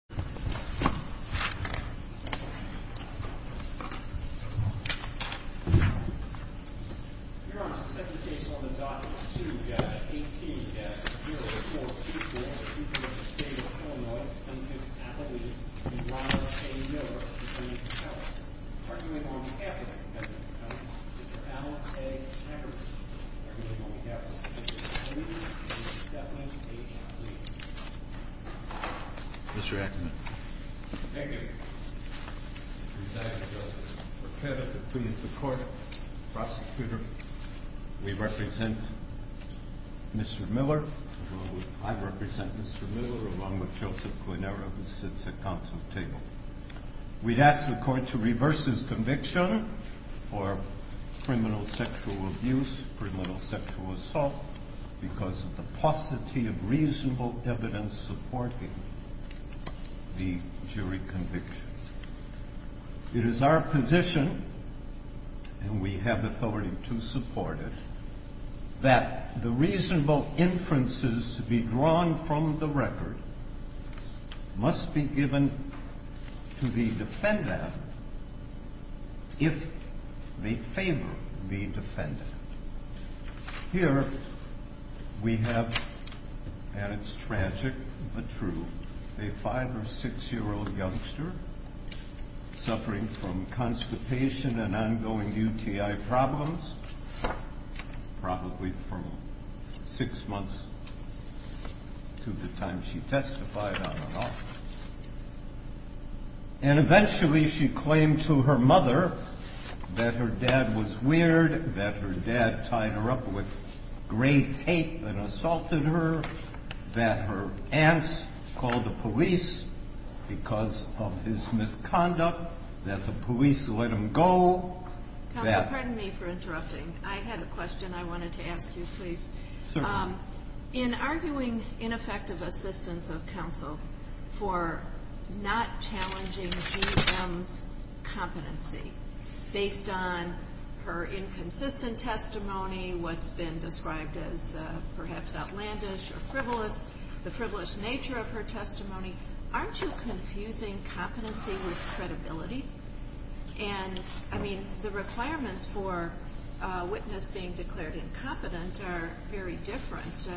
v. Ackerman, I applaud the Thank you, Mr. President. I would like to please the court, prosecutor. We represent Mr. Miller. I represent Mr. Miller, along with Joseph Guinera, who sits at council table. We'd ask the court to reverse his conviction for criminal sexual abuse, criminal sexual assault, because of the paucity of reasonable evidence supporting the jury conviction. It is our position, and we have authority to support it, that the reasonable inferences to be drawn from the record must be given to the defendant if they favor the defendant. Here we have, and it's tragic but true, a five or six year old youngster suffering from constipation and ongoing UTI problems, probably from six months to the time she testified, I don't know. And eventually she claimed to her mother that her dad was weird, that her dad tied her up with gray tape and assaulted her, that her aunts called the police because of his misconduct, that the police let him go. Counsel, pardon me for interrupting. I had a question I wanted to ask you, please. In arguing ineffective assistance of counsel for not challenging GM's competency based on her inconsistent testimony, what's been described as perhaps outlandish or frivolous, the frivolous nature of her testimony, aren't you confusing competency with credibility? And, I mean, the requirements for a witness being declared incompetent are very different.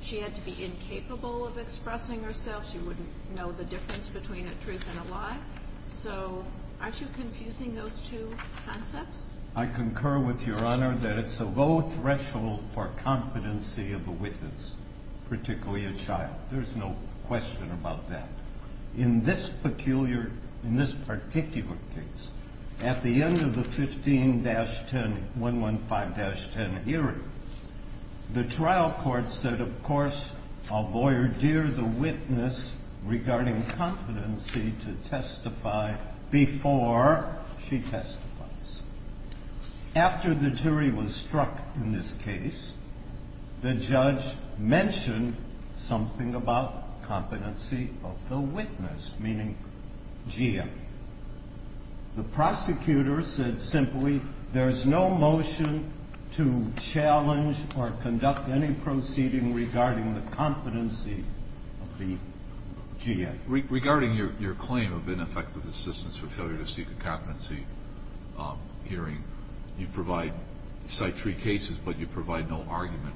She had to be incapable of expressing herself. She wouldn't know the difference between a truth and a lie. So aren't you confusing those two concepts? I concur with Your Honor that it's a low threshold for competency of a witness, particularly a child. There's no question about that. In this particular case, at the end of the 15-10, 115-10 hearing, the trial court said, of course, I'll voir dire the witness regarding competency to testify before she testifies. After the jury was struck in this case, the judge mentioned something about competency of the witness, meaning GM. The prosecutor said simply, there's no motion to challenge or conduct any proceeding regarding the competency of the GM. Regarding your claim of ineffective assistance for failure to seek a competency hearing, you cite three cases, but you provide no argument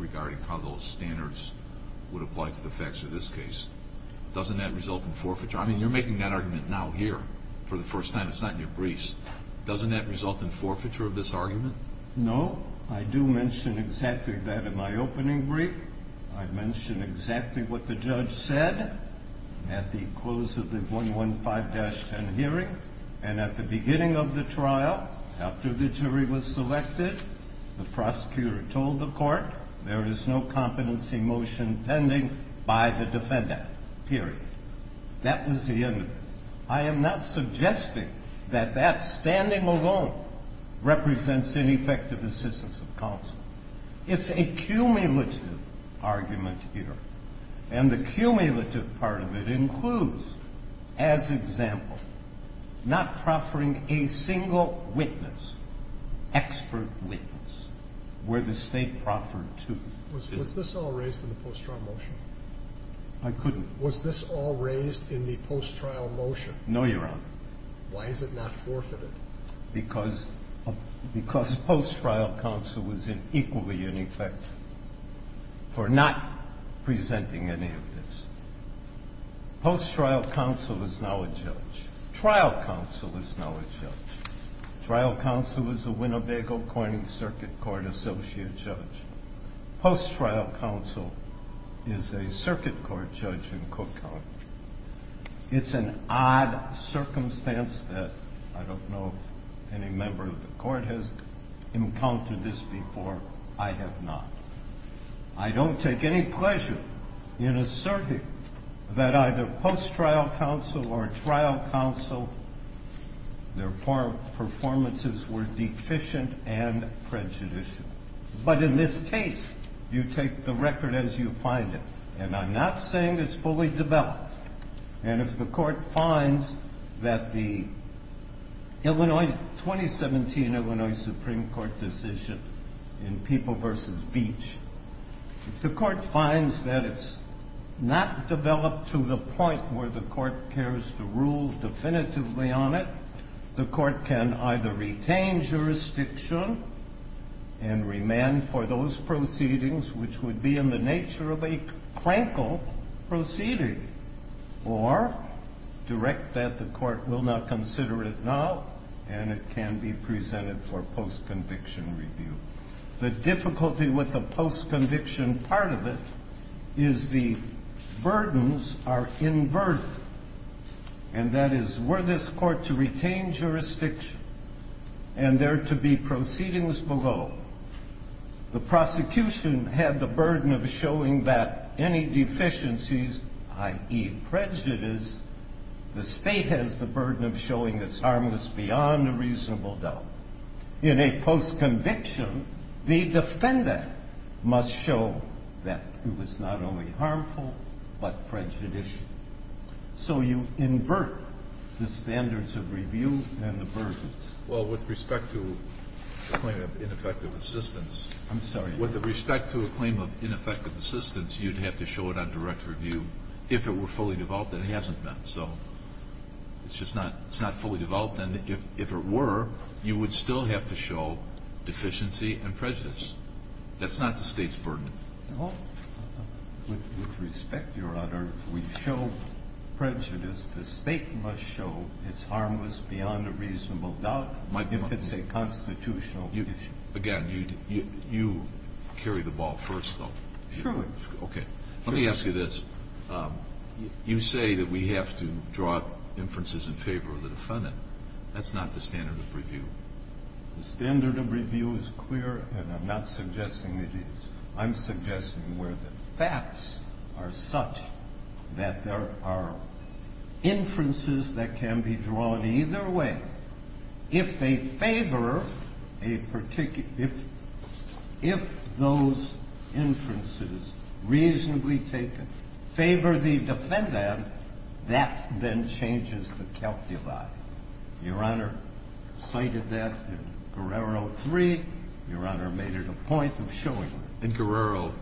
regarding how those standards would apply to the facts of this case. Doesn't that result in forfeiture? I mean, you're making that argument now here for the first time. It's not in your briefs. Doesn't that result in forfeiture of this argument? No. I do mention exactly that in my opening brief. I mention exactly what the judge said at the close of the 115-10 hearing. And at the beginning of the trial, after the jury was selected, the prosecutor told the court, there is no competency motion pending by the defendant, period. That was the end of it. I am not suggesting that that standing alone represents ineffective assistance of counsel. It's a cumulative argument here. And the cumulative part of it includes, as example, not proffering a single witness, expert witness, where the State proffered to. Was this all raised in the post-trial motion? I couldn't. Was this all raised in the post-trial motion? No, Your Honor. Why is it not forfeited? Because post-trial counsel was equally ineffective for not presenting any of this. Post-trial counsel is now a judge. Trial counsel is now a judge. Trial counsel is a Winnebago-Corning Circuit Court Associate Judge. Post-trial counsel is a Circuit Court Judge in Cook County. It's an odd circumstance that I don't know any member of the Court has encountered this before. I have not. I don't take any pleasure in asserting that either post-trial counsel or trial counsel, their performances were deficient and prejudicial. But in this case, you take the record as you find it. And I'm not saying it's fully developed. And if the Court finds that the Illinois, 2017 Illinois Supreme Court decision in People v. Beach, if the Court finds that it's not developed to the point where the Court cares to rule definitively on it, the Court can either retain jurisdiction and remand for those proceedings, which would be in the nature of a crankle proceeding. Or direct that the Court will not consider it now, and it can be presented for post-conviction review. The difficulty with the post-conviction part of it is the burdens are inverted. And that is, were this Court to retain jurisdiction and there to be proceedings below, the prosecution had the burden of showing that any deficiencies, i.e. prejudice, the State has the burden of showing it's harmless beyond a reasonable doubt. In a post-conviction, the defender must show that it was not only harmful, but prejudicial. So you invert the standards of review and the burdens. Well, with respect to the claim of ineffective assistance, with respect to a claim of ineffective assistance, you'd have to show it on direct review if it were fully developed, and it hasn't been. So it's just not fully developed. And if it were, you would still have to show deficiency and prejudice. That's not the State's burden. With respect, Your Honor, if we show prejudice, the State must show it's harmless beyond a reasonable doubt if it's a constitutional issue. Again, you carry the ball first, though. Sure. Okay. Let me ask you this. You say that we have to draw inferences in favor of the defendant. That's not the standard of review. The standard of review is clear, and I'm not suggesting it is. I'm suggesting where the facts are such that there are inferences that can be drawn either way. If they favor a particular – if those inferences reasonably take – favor the defendant, that then changes the calculi. Your Honor cited that in Guerrero 3. Your Honor made it a point of showing it. In Guerrero,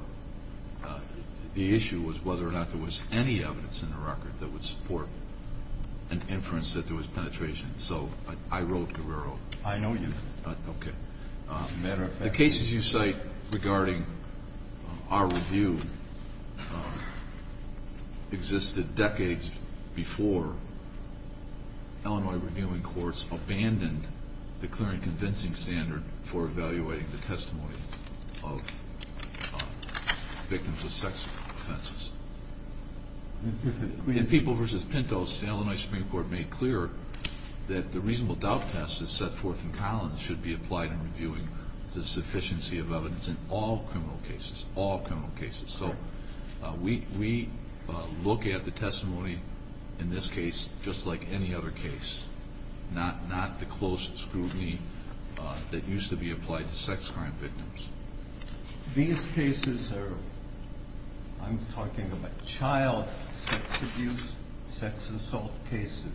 the issue was whether or not there was any evidence in the record that would support an inference that there was penetration. So I wrote Guerrero. I know you did. Okay. As a matter of fact – The cases you cite regarding our review existed decades before Illinois reviewing courts abandoned the clear and convincing standard for evaluating the testimony of victims of sex offenses. In People v. Pintos, the Illinois Supreme Court made clear that the reasonable doubt test that's set forth in Collins should be applied in reviewing the sufficiency of evidence in all criminal cases, all criminal cases. So we look at the testimony in this case just like any other case, not the close scrutiny that used to be applied to sex crime victims. These cases are – I'm talking about child sex abuse, sex assault cases,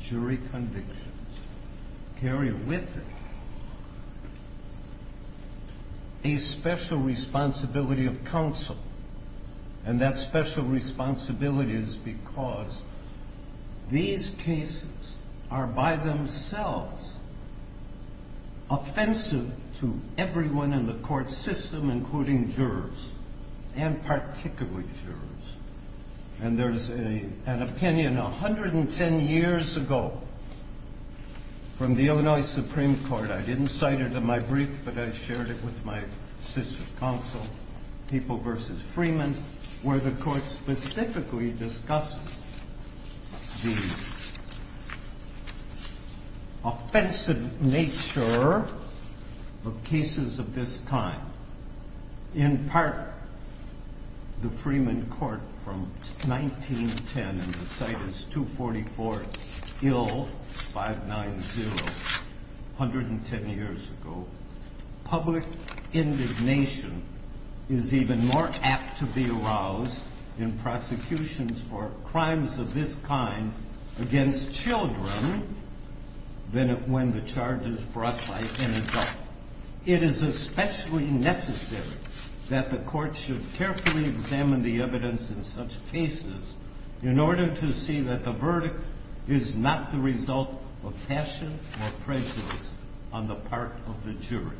jury convictions – carry with it a special responsibility of counsel. And that special responsibility is because these cases are by themselves offensive to everyone in the court system, including jurors, and particularly jurors. And there's an opinion 110 years ago from the Illinois Supreme Court – I didn't cite it in my brief, but I shared it with my sits of counsel – People v. Freeman, where the court specifically discussed the offensive nature of cases of this kind. In part, the Freeman court from 1910 – and the cite is 244 Ill 590, 110 years ago – public indignation is even more apt to be aroused in prosecutions for crimes of this kind against children than when the charge is brought by an adult. It is especially necessary that the court should carefully examine the evidence in such cases in order to see that the verdict is not the result of passion or prejudice on the part of the jury.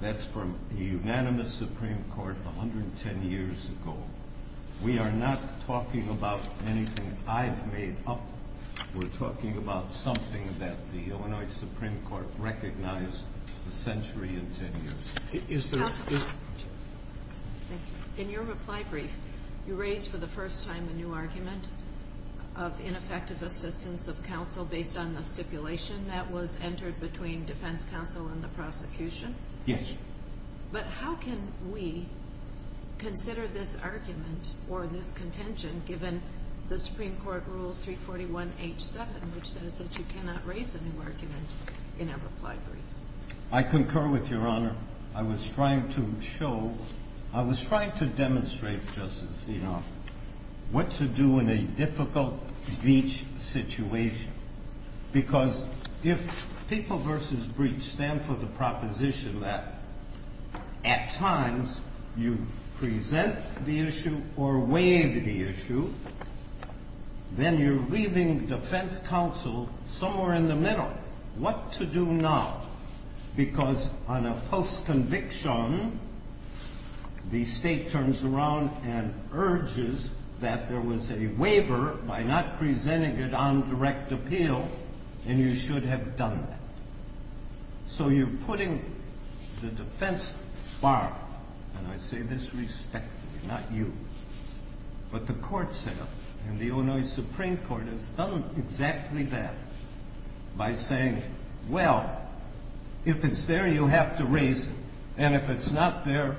That's from the unanimous Supreme Court 110 years ago. We are not talking about anything I've made up. We're talking about something that the Illinois Supreme Court recognized a century and 10 years ago. In your reply brief, you raised for the first time a new argument of ineffective assistance of counsel based on the stipulation that was entered between defense counsel and the prosecution. Yes. But how can we consider this argument or this contention given the Supreme Court Rules 341H7, which says that you cannot raise a new argument in a reply brief? I concur with Your Honor. I was trying to show – I was trying to demonstrate, Justice Sotomayor, what to do in a difficult breach situation. Because if People v. Breach stand for the proposition that at times you present the issue or waive the issue, then you're leaving defense counsel somewhere in the middle. What to do now? Because on a post-conviction, the state turns around and urges that there was a waiver by not presenting it on direct appeal, and you should have done that. So you're putting the defense bar – and I say this respectfully, not you – but the courts have, and the Illinois Supreme Court has done exactly that by saying, well, if it's there, you have to raise it, and if it's not there,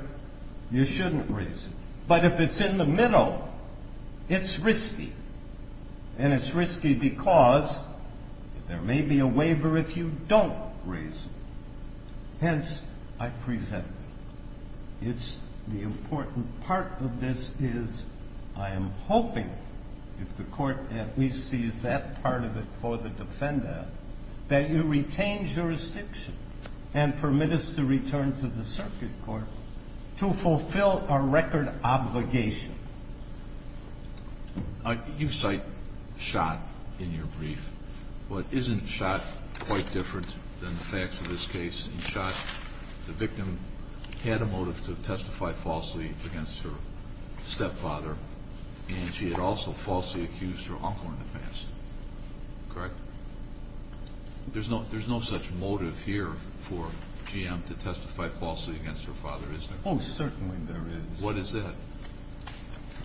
you shouldn't raise it. But if it's in the middle, it's risky. And it's risky because there may be a waiver if you don't raise it. Hence, I present it. It's the important part of this is I am hoping, if the Court at least sees that part of it for the defendant, that you retain jurisdiction and permit us to return to the circuit court to fulfill our record obligation. Kennedy, you cite Schott in your brief. But isn't Schott quite different than the facts of this case? In Schott, the victim had a motive to testify falsely against her stepfather, and she had also falsely accused her uncle in the past. Correct? There's no such motive here for GM to testify falsely against her father, is there? Oh, certainly there is. What is that?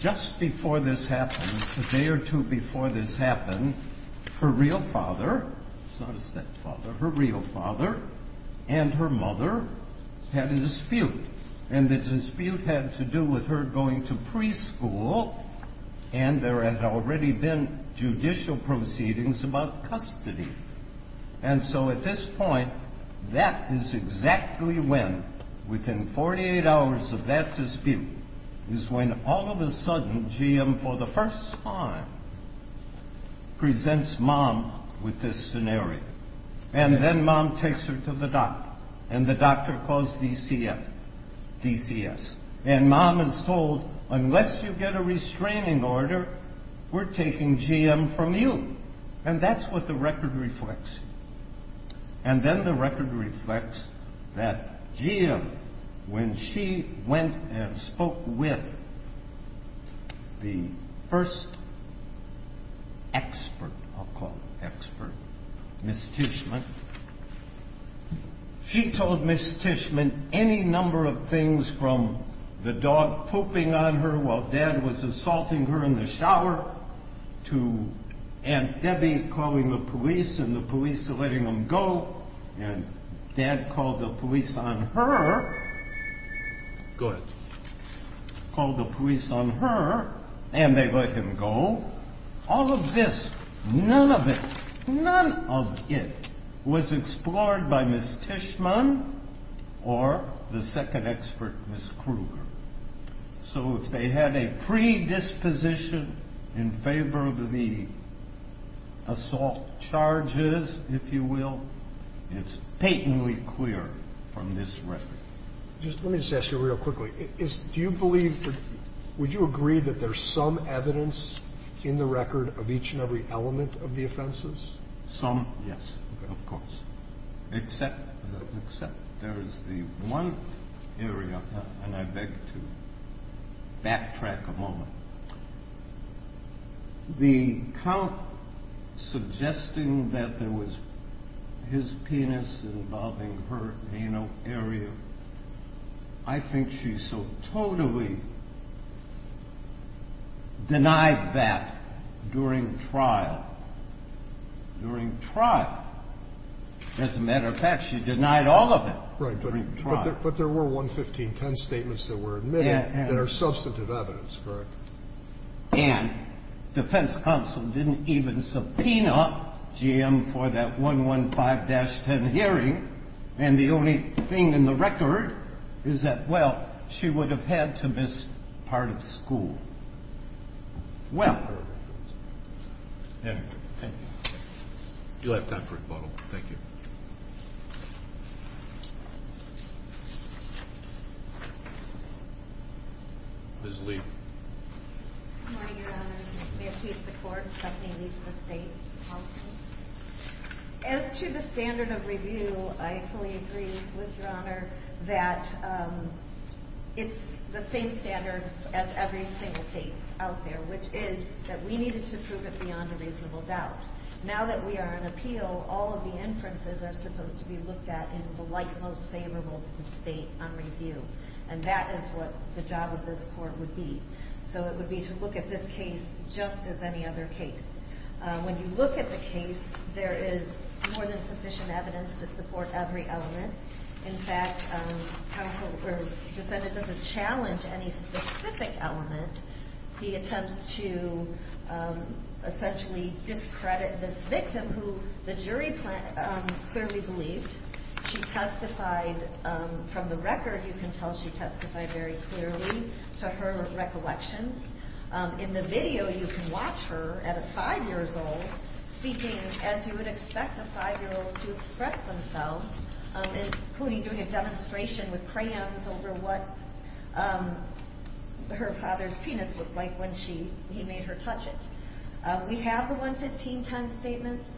Just before this happened, a day or two before this happened, her real father — it's not a stepfather — her real father and her mother had a dispute, and the dispute had to do with her going to preschool, and there had already been judicial proceedings about custody. And so at this point, that is exactly when, within 48 hours of that dispute, is when all of a sudden GM, for the first time, presents Mom with this scenario. And then Mom takes her to the doctor, and the doctor calls DCS. And Mom is told, unless you get a restraining order, we're taking GM from you. And that's what the record reflects. And then the record reflects that GM, when she went and spoke with the first expert, I'll call her expert, Ms. Tishman, she told Ms. Tishman any number of things from the dog pooping on her while Dad was assaulting her in the shower, to Aunt Debbie calling the police and the police letting them go, and Dad called the police on her — Go ahead. — called the police on her, and they let him go. All of this, none of it, none of it was explored by Ms. Tishman or the second expert, Ms. Kruger. So if they had a predisposition in favor of the assault charges, if you will, it's patently clear from this record. Let me just ask you real quickly. Do you believe — would you agree that there's some evidence in the record of each and every element of the offenses? Yes, of course. Except there is the one area, and I beg to backtrack a moment. The count suggesting that there was his penis involving her anal area, I think she so totally denied that during trial. During trial. As a matter of fact, she denied all of it during trial. Right, but there were 11510 statements that were admitted that are substantive evidence, correct? And defense counsel didn't even subpoena GM for that 115-10 hearing, and the only thing in the record is that, well, she would have had to miss part of school. Well, anyway, thank you. You'll have time for a rebuttal. Thank you. Ms. Lee. Good morning, Your Honors. May it please the Court, Stephanie Lee for the State Counsel. As to the standard of review, I fully agree with Your Honor that it's the same standard as every single case out there, which is that we needed to prove it beyond a reasonable doubt. Now that we are on appeal, all of the inferences are supposed to be looked at in the light most favorable to the State on review, and that is what the job of this Court would be. So it would be to look at this case just as any other case. When you look at the case, there is more than sufficient evidence to support every element. In fact, the defendant doesn't challenge any specific element. He attempts to essentially discredit this victim, who the jury clearly believed. She testified from the record. You can tell she testified very clearly to her recollections. In the video, you can watch her at a 5-year-old speaking as you would expect a 5-year-old to express themselves, including doing a demonstration with crayons over what her father's penis looked like when he made her touch it. We have the 115-10 statements.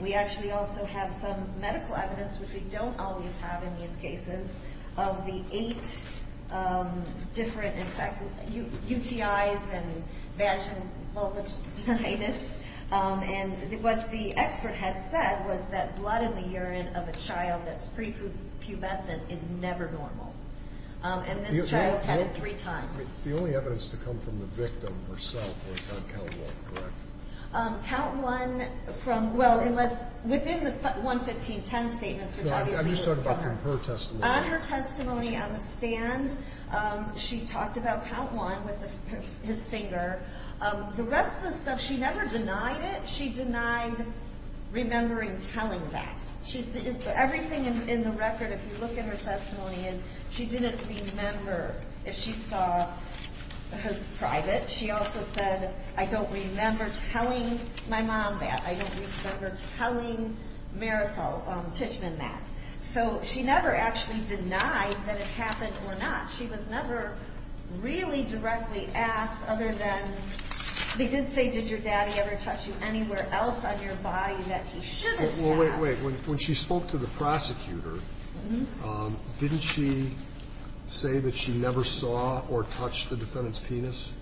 We actually also have some medical evidence, which we don't always have in these cases, of the eight different UTIs and vaginal vulvatitis. And what the expert had said was that blood in the urine of a child that's prepubescent is never normal. And this child had it three times. The only evidence to come from the victim herself was on count one, correct? Count one from – well, within the 115-10 statements, which obviously – I'm just talking about from her testimony. On her testimony on the stand, she talked about count one with his finger. The rest of the stuff, she never denied it. She denied remembering telling that. Everything in the record, if you look at her testimony, is she didn't remember if she saw his private. She also said, I don't remember telling my mom that. I don't remember telling Marisol Tishman that. So she never actually denied that it happened or not. She was never really directly asked other than – they did say, did your daddy ever touch you anywhere else on your body that he shouldn't have. Well, wait, wait. When she spoke to the prosecutor, didn't she say that she never saw or touched the defendant's penis?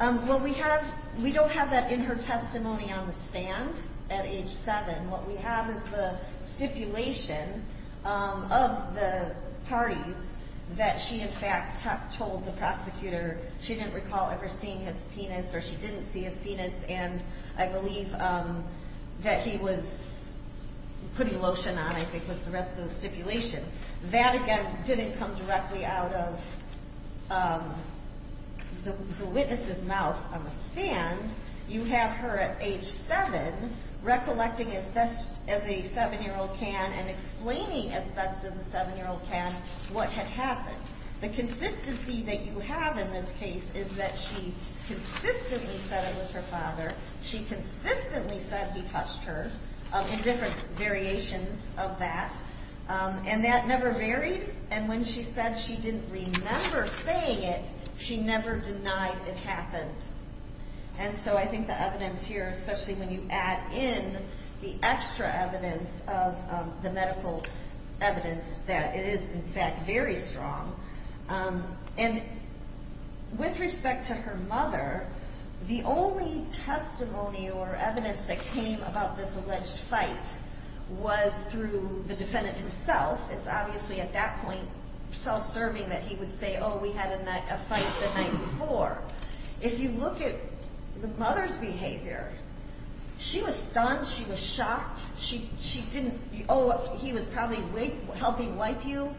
Well, we have – we don't have that in her testimony on the stand at age seven. What we have is the stipulation of the parties that she, in fact, told the prosecutor she didn't recall ever seeing his penis or she didn't see his penis, and I believe that he was putting lotion on, I think, was the rest of the stipulation. That, again, didn't come directly out of the witness's mouth on the stand. You have her at age seven recollecting as best as a seven-year-old can and explaining as best as a seven-year-old can what had happened. The consistency that you have in this case is that she consistently said it was her father. She consistently said he touched her in different variations of that, and that never varied. And when she said she didn't remember saying it, she never denied it happened. And so I think the evidence here, especially when you add in the extra evidence of the medical evidence, that it is, in fact, very strong. And with respect to her mother, the only testimony or evidence that came about this alleged fight was through the defendant himself. It's obviously at that point self-serving that he would say, oh, we had a fight the night before. If you look at the mother's behavior, she was stunned, she was shocked. She didn't, oh, he was probably helping wipe you.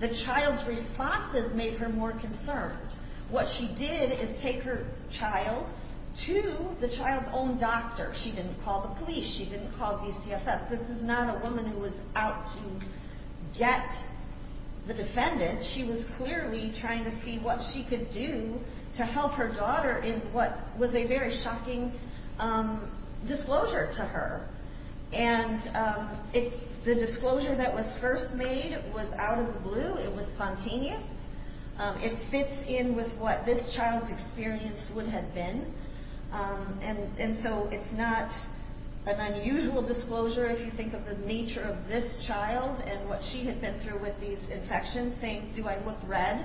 The child's responses made her more concerned. What she did is take her child to the child's own doctor. She didn't call the police. She didn't call DCFS. This is not a woman who was out to get the defendant. She was clearly trying to see what she could do to help her daughter in what was a very shocking disclosure to her. And the disclosure that was first made was out of the blue. It was spontaneous. It fits in with what this child's experience would have been. And so it's not an unusual disclosure if you think of the nature of this child and what she had been through with these infections, saying, do I look red?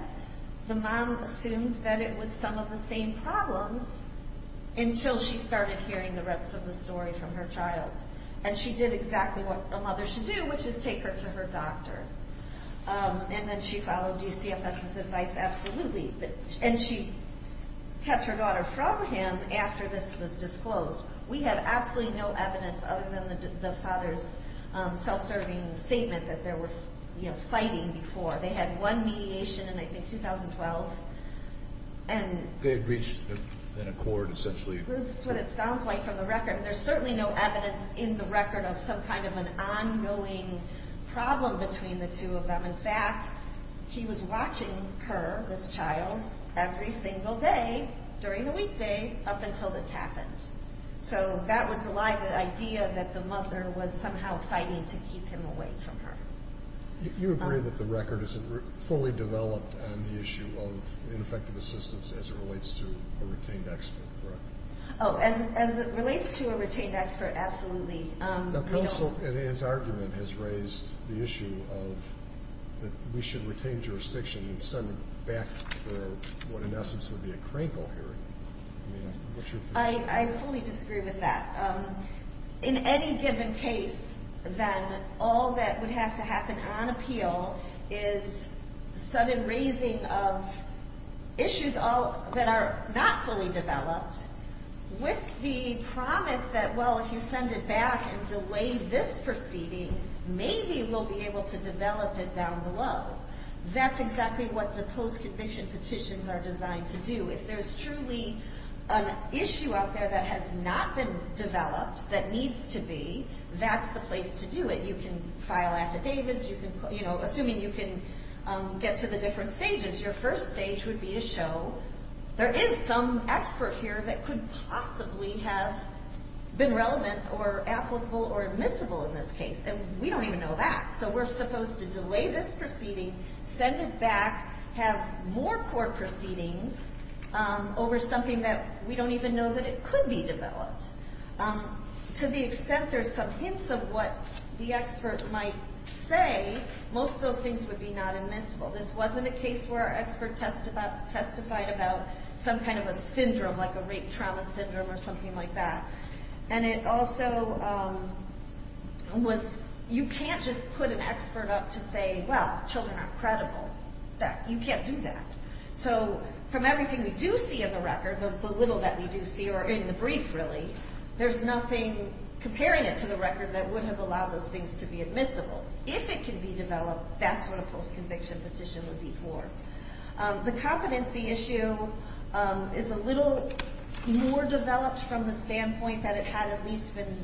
The mom assumed that it was some of the same problems until she started hearing the rest of the story from her child. And she did exactly what a mother should do, which is take her to her doctor. And then she followed DCFS's advice absolutely. And she kept her daughter from him after this was disclosed. We have absolutely no evidence other than the father's self-serving statement that they were fighting before. They had one mediation in, I think, 2012. They had reached an accord, essentially. That's what it sounds like from the record. There's certainly no evidence in the record of some kind of an ongoing problem between the two of them. In fact, he was watching her, this child, every single day during the weekday up until this happened. So that would rely on the idea that the mother was somehow fighting to keep him away from her. You agree that the record isn't fully developed on the issue of ineffective assistance as it relates to a retained expert, correct? Oh, as it relates to a retained expert, absolutely. The counsel in his argument has raised the issue of that we should retain jurisdiction and send it back for what in essence would be a crankle hearing. I mean, what's your position? I fully disagree with that. In any given case, then, all that would have to happen on appeal is sudden raising of issues that are not fully developed with the promise that, well, if you send it back and delay this proceeding, maybe we'll be able to develop it down below. That's exactly what the post-conviction petitions are designed to do. If there's truly an issue out there that has not been developed, that needs to be, that's the place to do it. You can file affidavits. Assuming you can get to the different stages, your first stage would be to show there is some expert here that could possibly have been relevant or applicable or admissible in this case, and we don't even know that. So we're supposed to delay this proceeding, send it back, have more court proceedings over something that we don't even know that it could be developed. To the extent there's some hints of what the expert might say, most of those things would be not admissible. This wasn't a case where our expert testified about some kind of a syndrome, like a rape trauma syndrome or something like that. And it also was, you can't just put an expert up to say, well, children aren't credible. You can't do that. So from everything we do see in the record, the little that we do see, or in the brief, really, there's nothing comparing it to the record that would have allowed those things to be admissible. If it can be developed, that's what a post-conviction petition would be for. The competency issue is a little more developed from the standpoint that it had at least been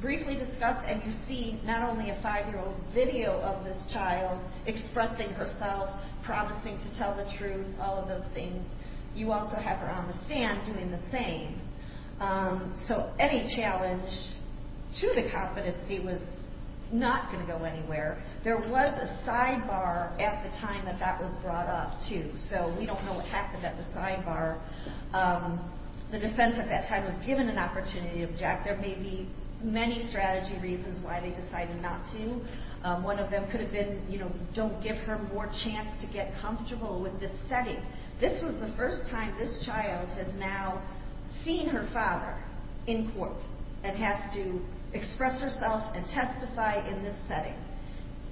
briefly discussed, and you see not only a 5-year-old video of this child expressing herself, promising to tell the truth, all of those things. You also have her on the stand doing the same. So any challenge to the competency was not going to go anywhere. There was a sidebar at the time that that was brought up, too, so we don't know what happened at the sidebar. The defense at that time was given an opportunity to object. There may be many strategy reasons why they decided not to. One of them could have been, you know, don't give her more chance to get comfortable with this setting. This was the first time this child has now seen her father in court and has to express herself and testify in this setting.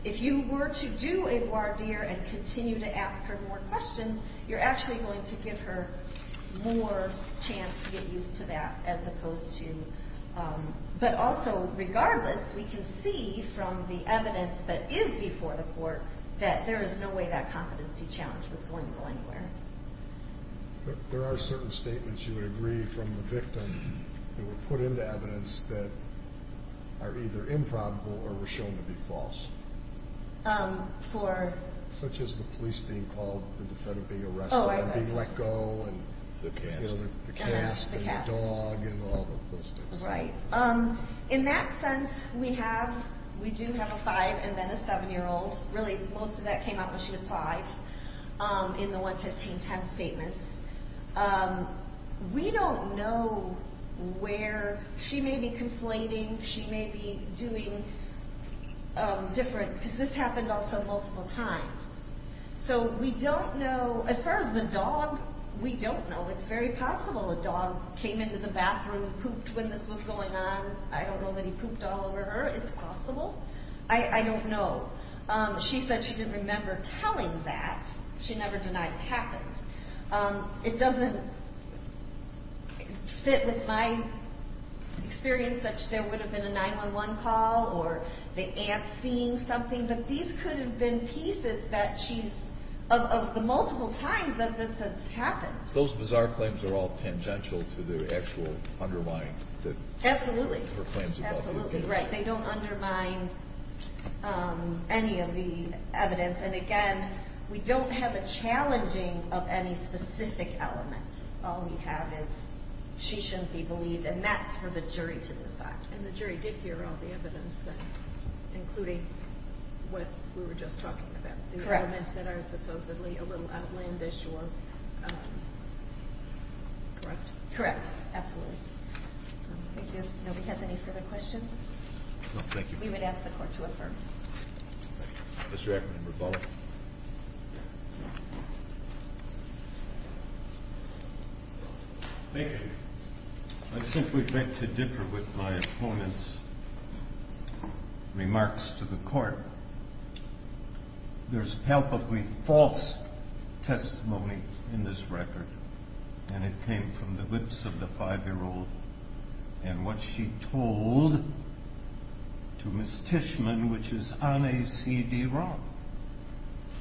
If you were to do a voir dire and continue to ask her more questions, you're actually going to give her more chance to get used to that as opposed to... But also, regardless, we can see from the evidence that is before the court that there is no way that competency challenge was going to go anywhere. There are certain statements, you would agree, from the victim that were put into evidence that are either improbable or were shown to be false. For? Such as the police being called, the defendant being arrested and being let go and the cast and the dog and all of those things. Right. In that sense, we do have a five and then a seven-year-old. Really, most of that came up when she was five in the 11510 statements. We don't know where she may be conflating. She may be doing different, because this happened also multiple times. So we don't know. As far as the dog, we don't know. It's very possible a dog came into the bathroom, pooped when this was going on. I don't know that he pooped all over her. It's possible. I don't know. She said she didn't remember telling that. She never denied it happened. It doesn't fit with my experience that there would have been a 911 call or the aunt seeing something. But these could have been pieces of the multiple times that this has happened. So those bizarre claims are all tangential to the actual undermined claims? Absolutely. They don't undermine any of the evidence. And, again, we don't have a challenging of any specific element. All we have is she shouldn't be believed, and that's for the jury to decide. And the jury did hear all the evidence, including what we were just talking about, the elements that are supposedly a little outlandish or corrupt. Correct, absolutely. Thank you. Nobody has any further questions? No, thank you. We would ask the Court to affirm. Mr. Ackerman, rebuttal. Thank you. I simply beg to differ with my opponent's remarks to the Court. There's palpably false testimony in this record, and it came from the lips of the 5-year-old and what she told to Ms. Tishman, which is on a CD-ROM.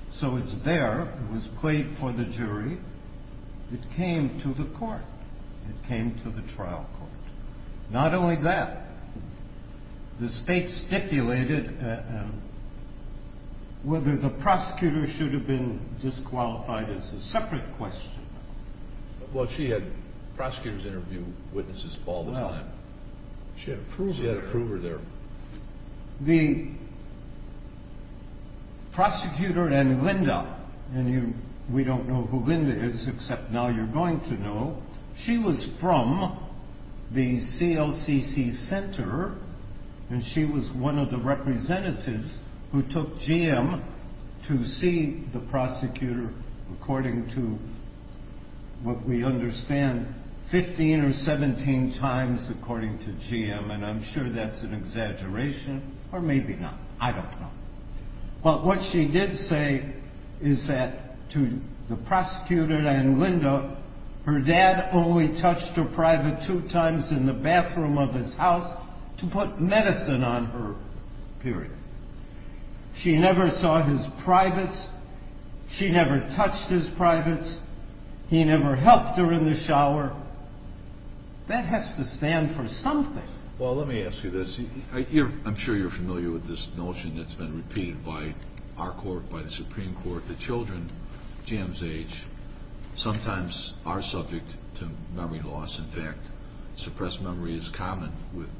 So it's there. It was played for the jury. It came to the Court. It came to the trial court. Not only that, the State stipulated whether the prosecutor should have been disqualified. It's a separate question. Well, she had prosecutors interview witnesses all the time. She had a prover there. The prosecutor and Linda, and we don't know who Linda is except now you're going to know, she was from the CLCC Center, and she was one of the representatives who took GM to see the prosecutor, according to what we understand, 15 or 17 times, according to GM, and I'm sure that's an exaggeration or maybe not. I don't know. But what she did say is that to the prosecutor and Linda, her dad only touched her private two times in the bathroom of his house to put medicine on her, period. She never saw his privates. She never touched his privates. He never helped her in the shower. That has to stand for something. Well, let me ask you this. I'm sure you're familiar with this notion that's been repeated by our Court, by the Supreme Court, that children GM's age sometimes are subject to memory loss. In fact, suppressed memory is common with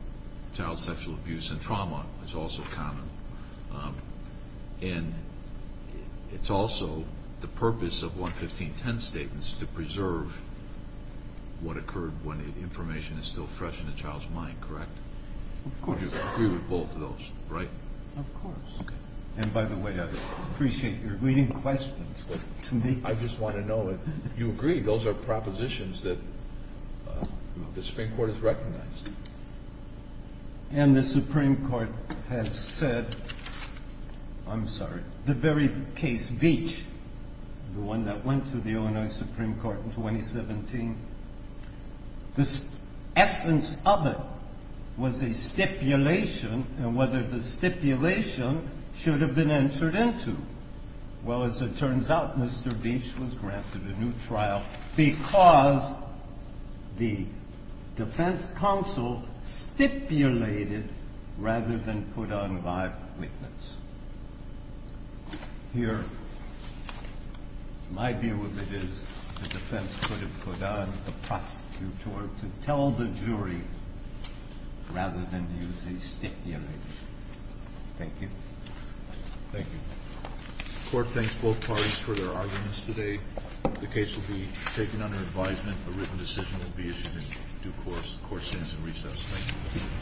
child sexual abuse, and trauma is also common. And it's also the purpose of 11510 statements to preserve what occurred when information is still fresh in a child's mind, correct? Of course. You agree with both of those, right? Of course. And by the way, I appreciate your leading questions. I just want to know if you agree those are propositions that the Supreme Court has recognized. And the Supreme Court has said, I'm sorry, the very case Veatch, the one that went to the Illinois Supreme Court in 2017, the essence of it was a stipulation, and whether the stipulation should have been entered into. Well, as it turns out, Mr. Veatch was granted a new trial because the defense counsel stipulated rather than put on live witness. Here, my view of it is the defense could have put on the prosecutor to tell the jury rather than use a stipulation. Thank you. Thank you. The court thanks both parties for their arguments today. The case will be taken under advisement. A written decision will be issued in due course. The court stands in recess. Thank you.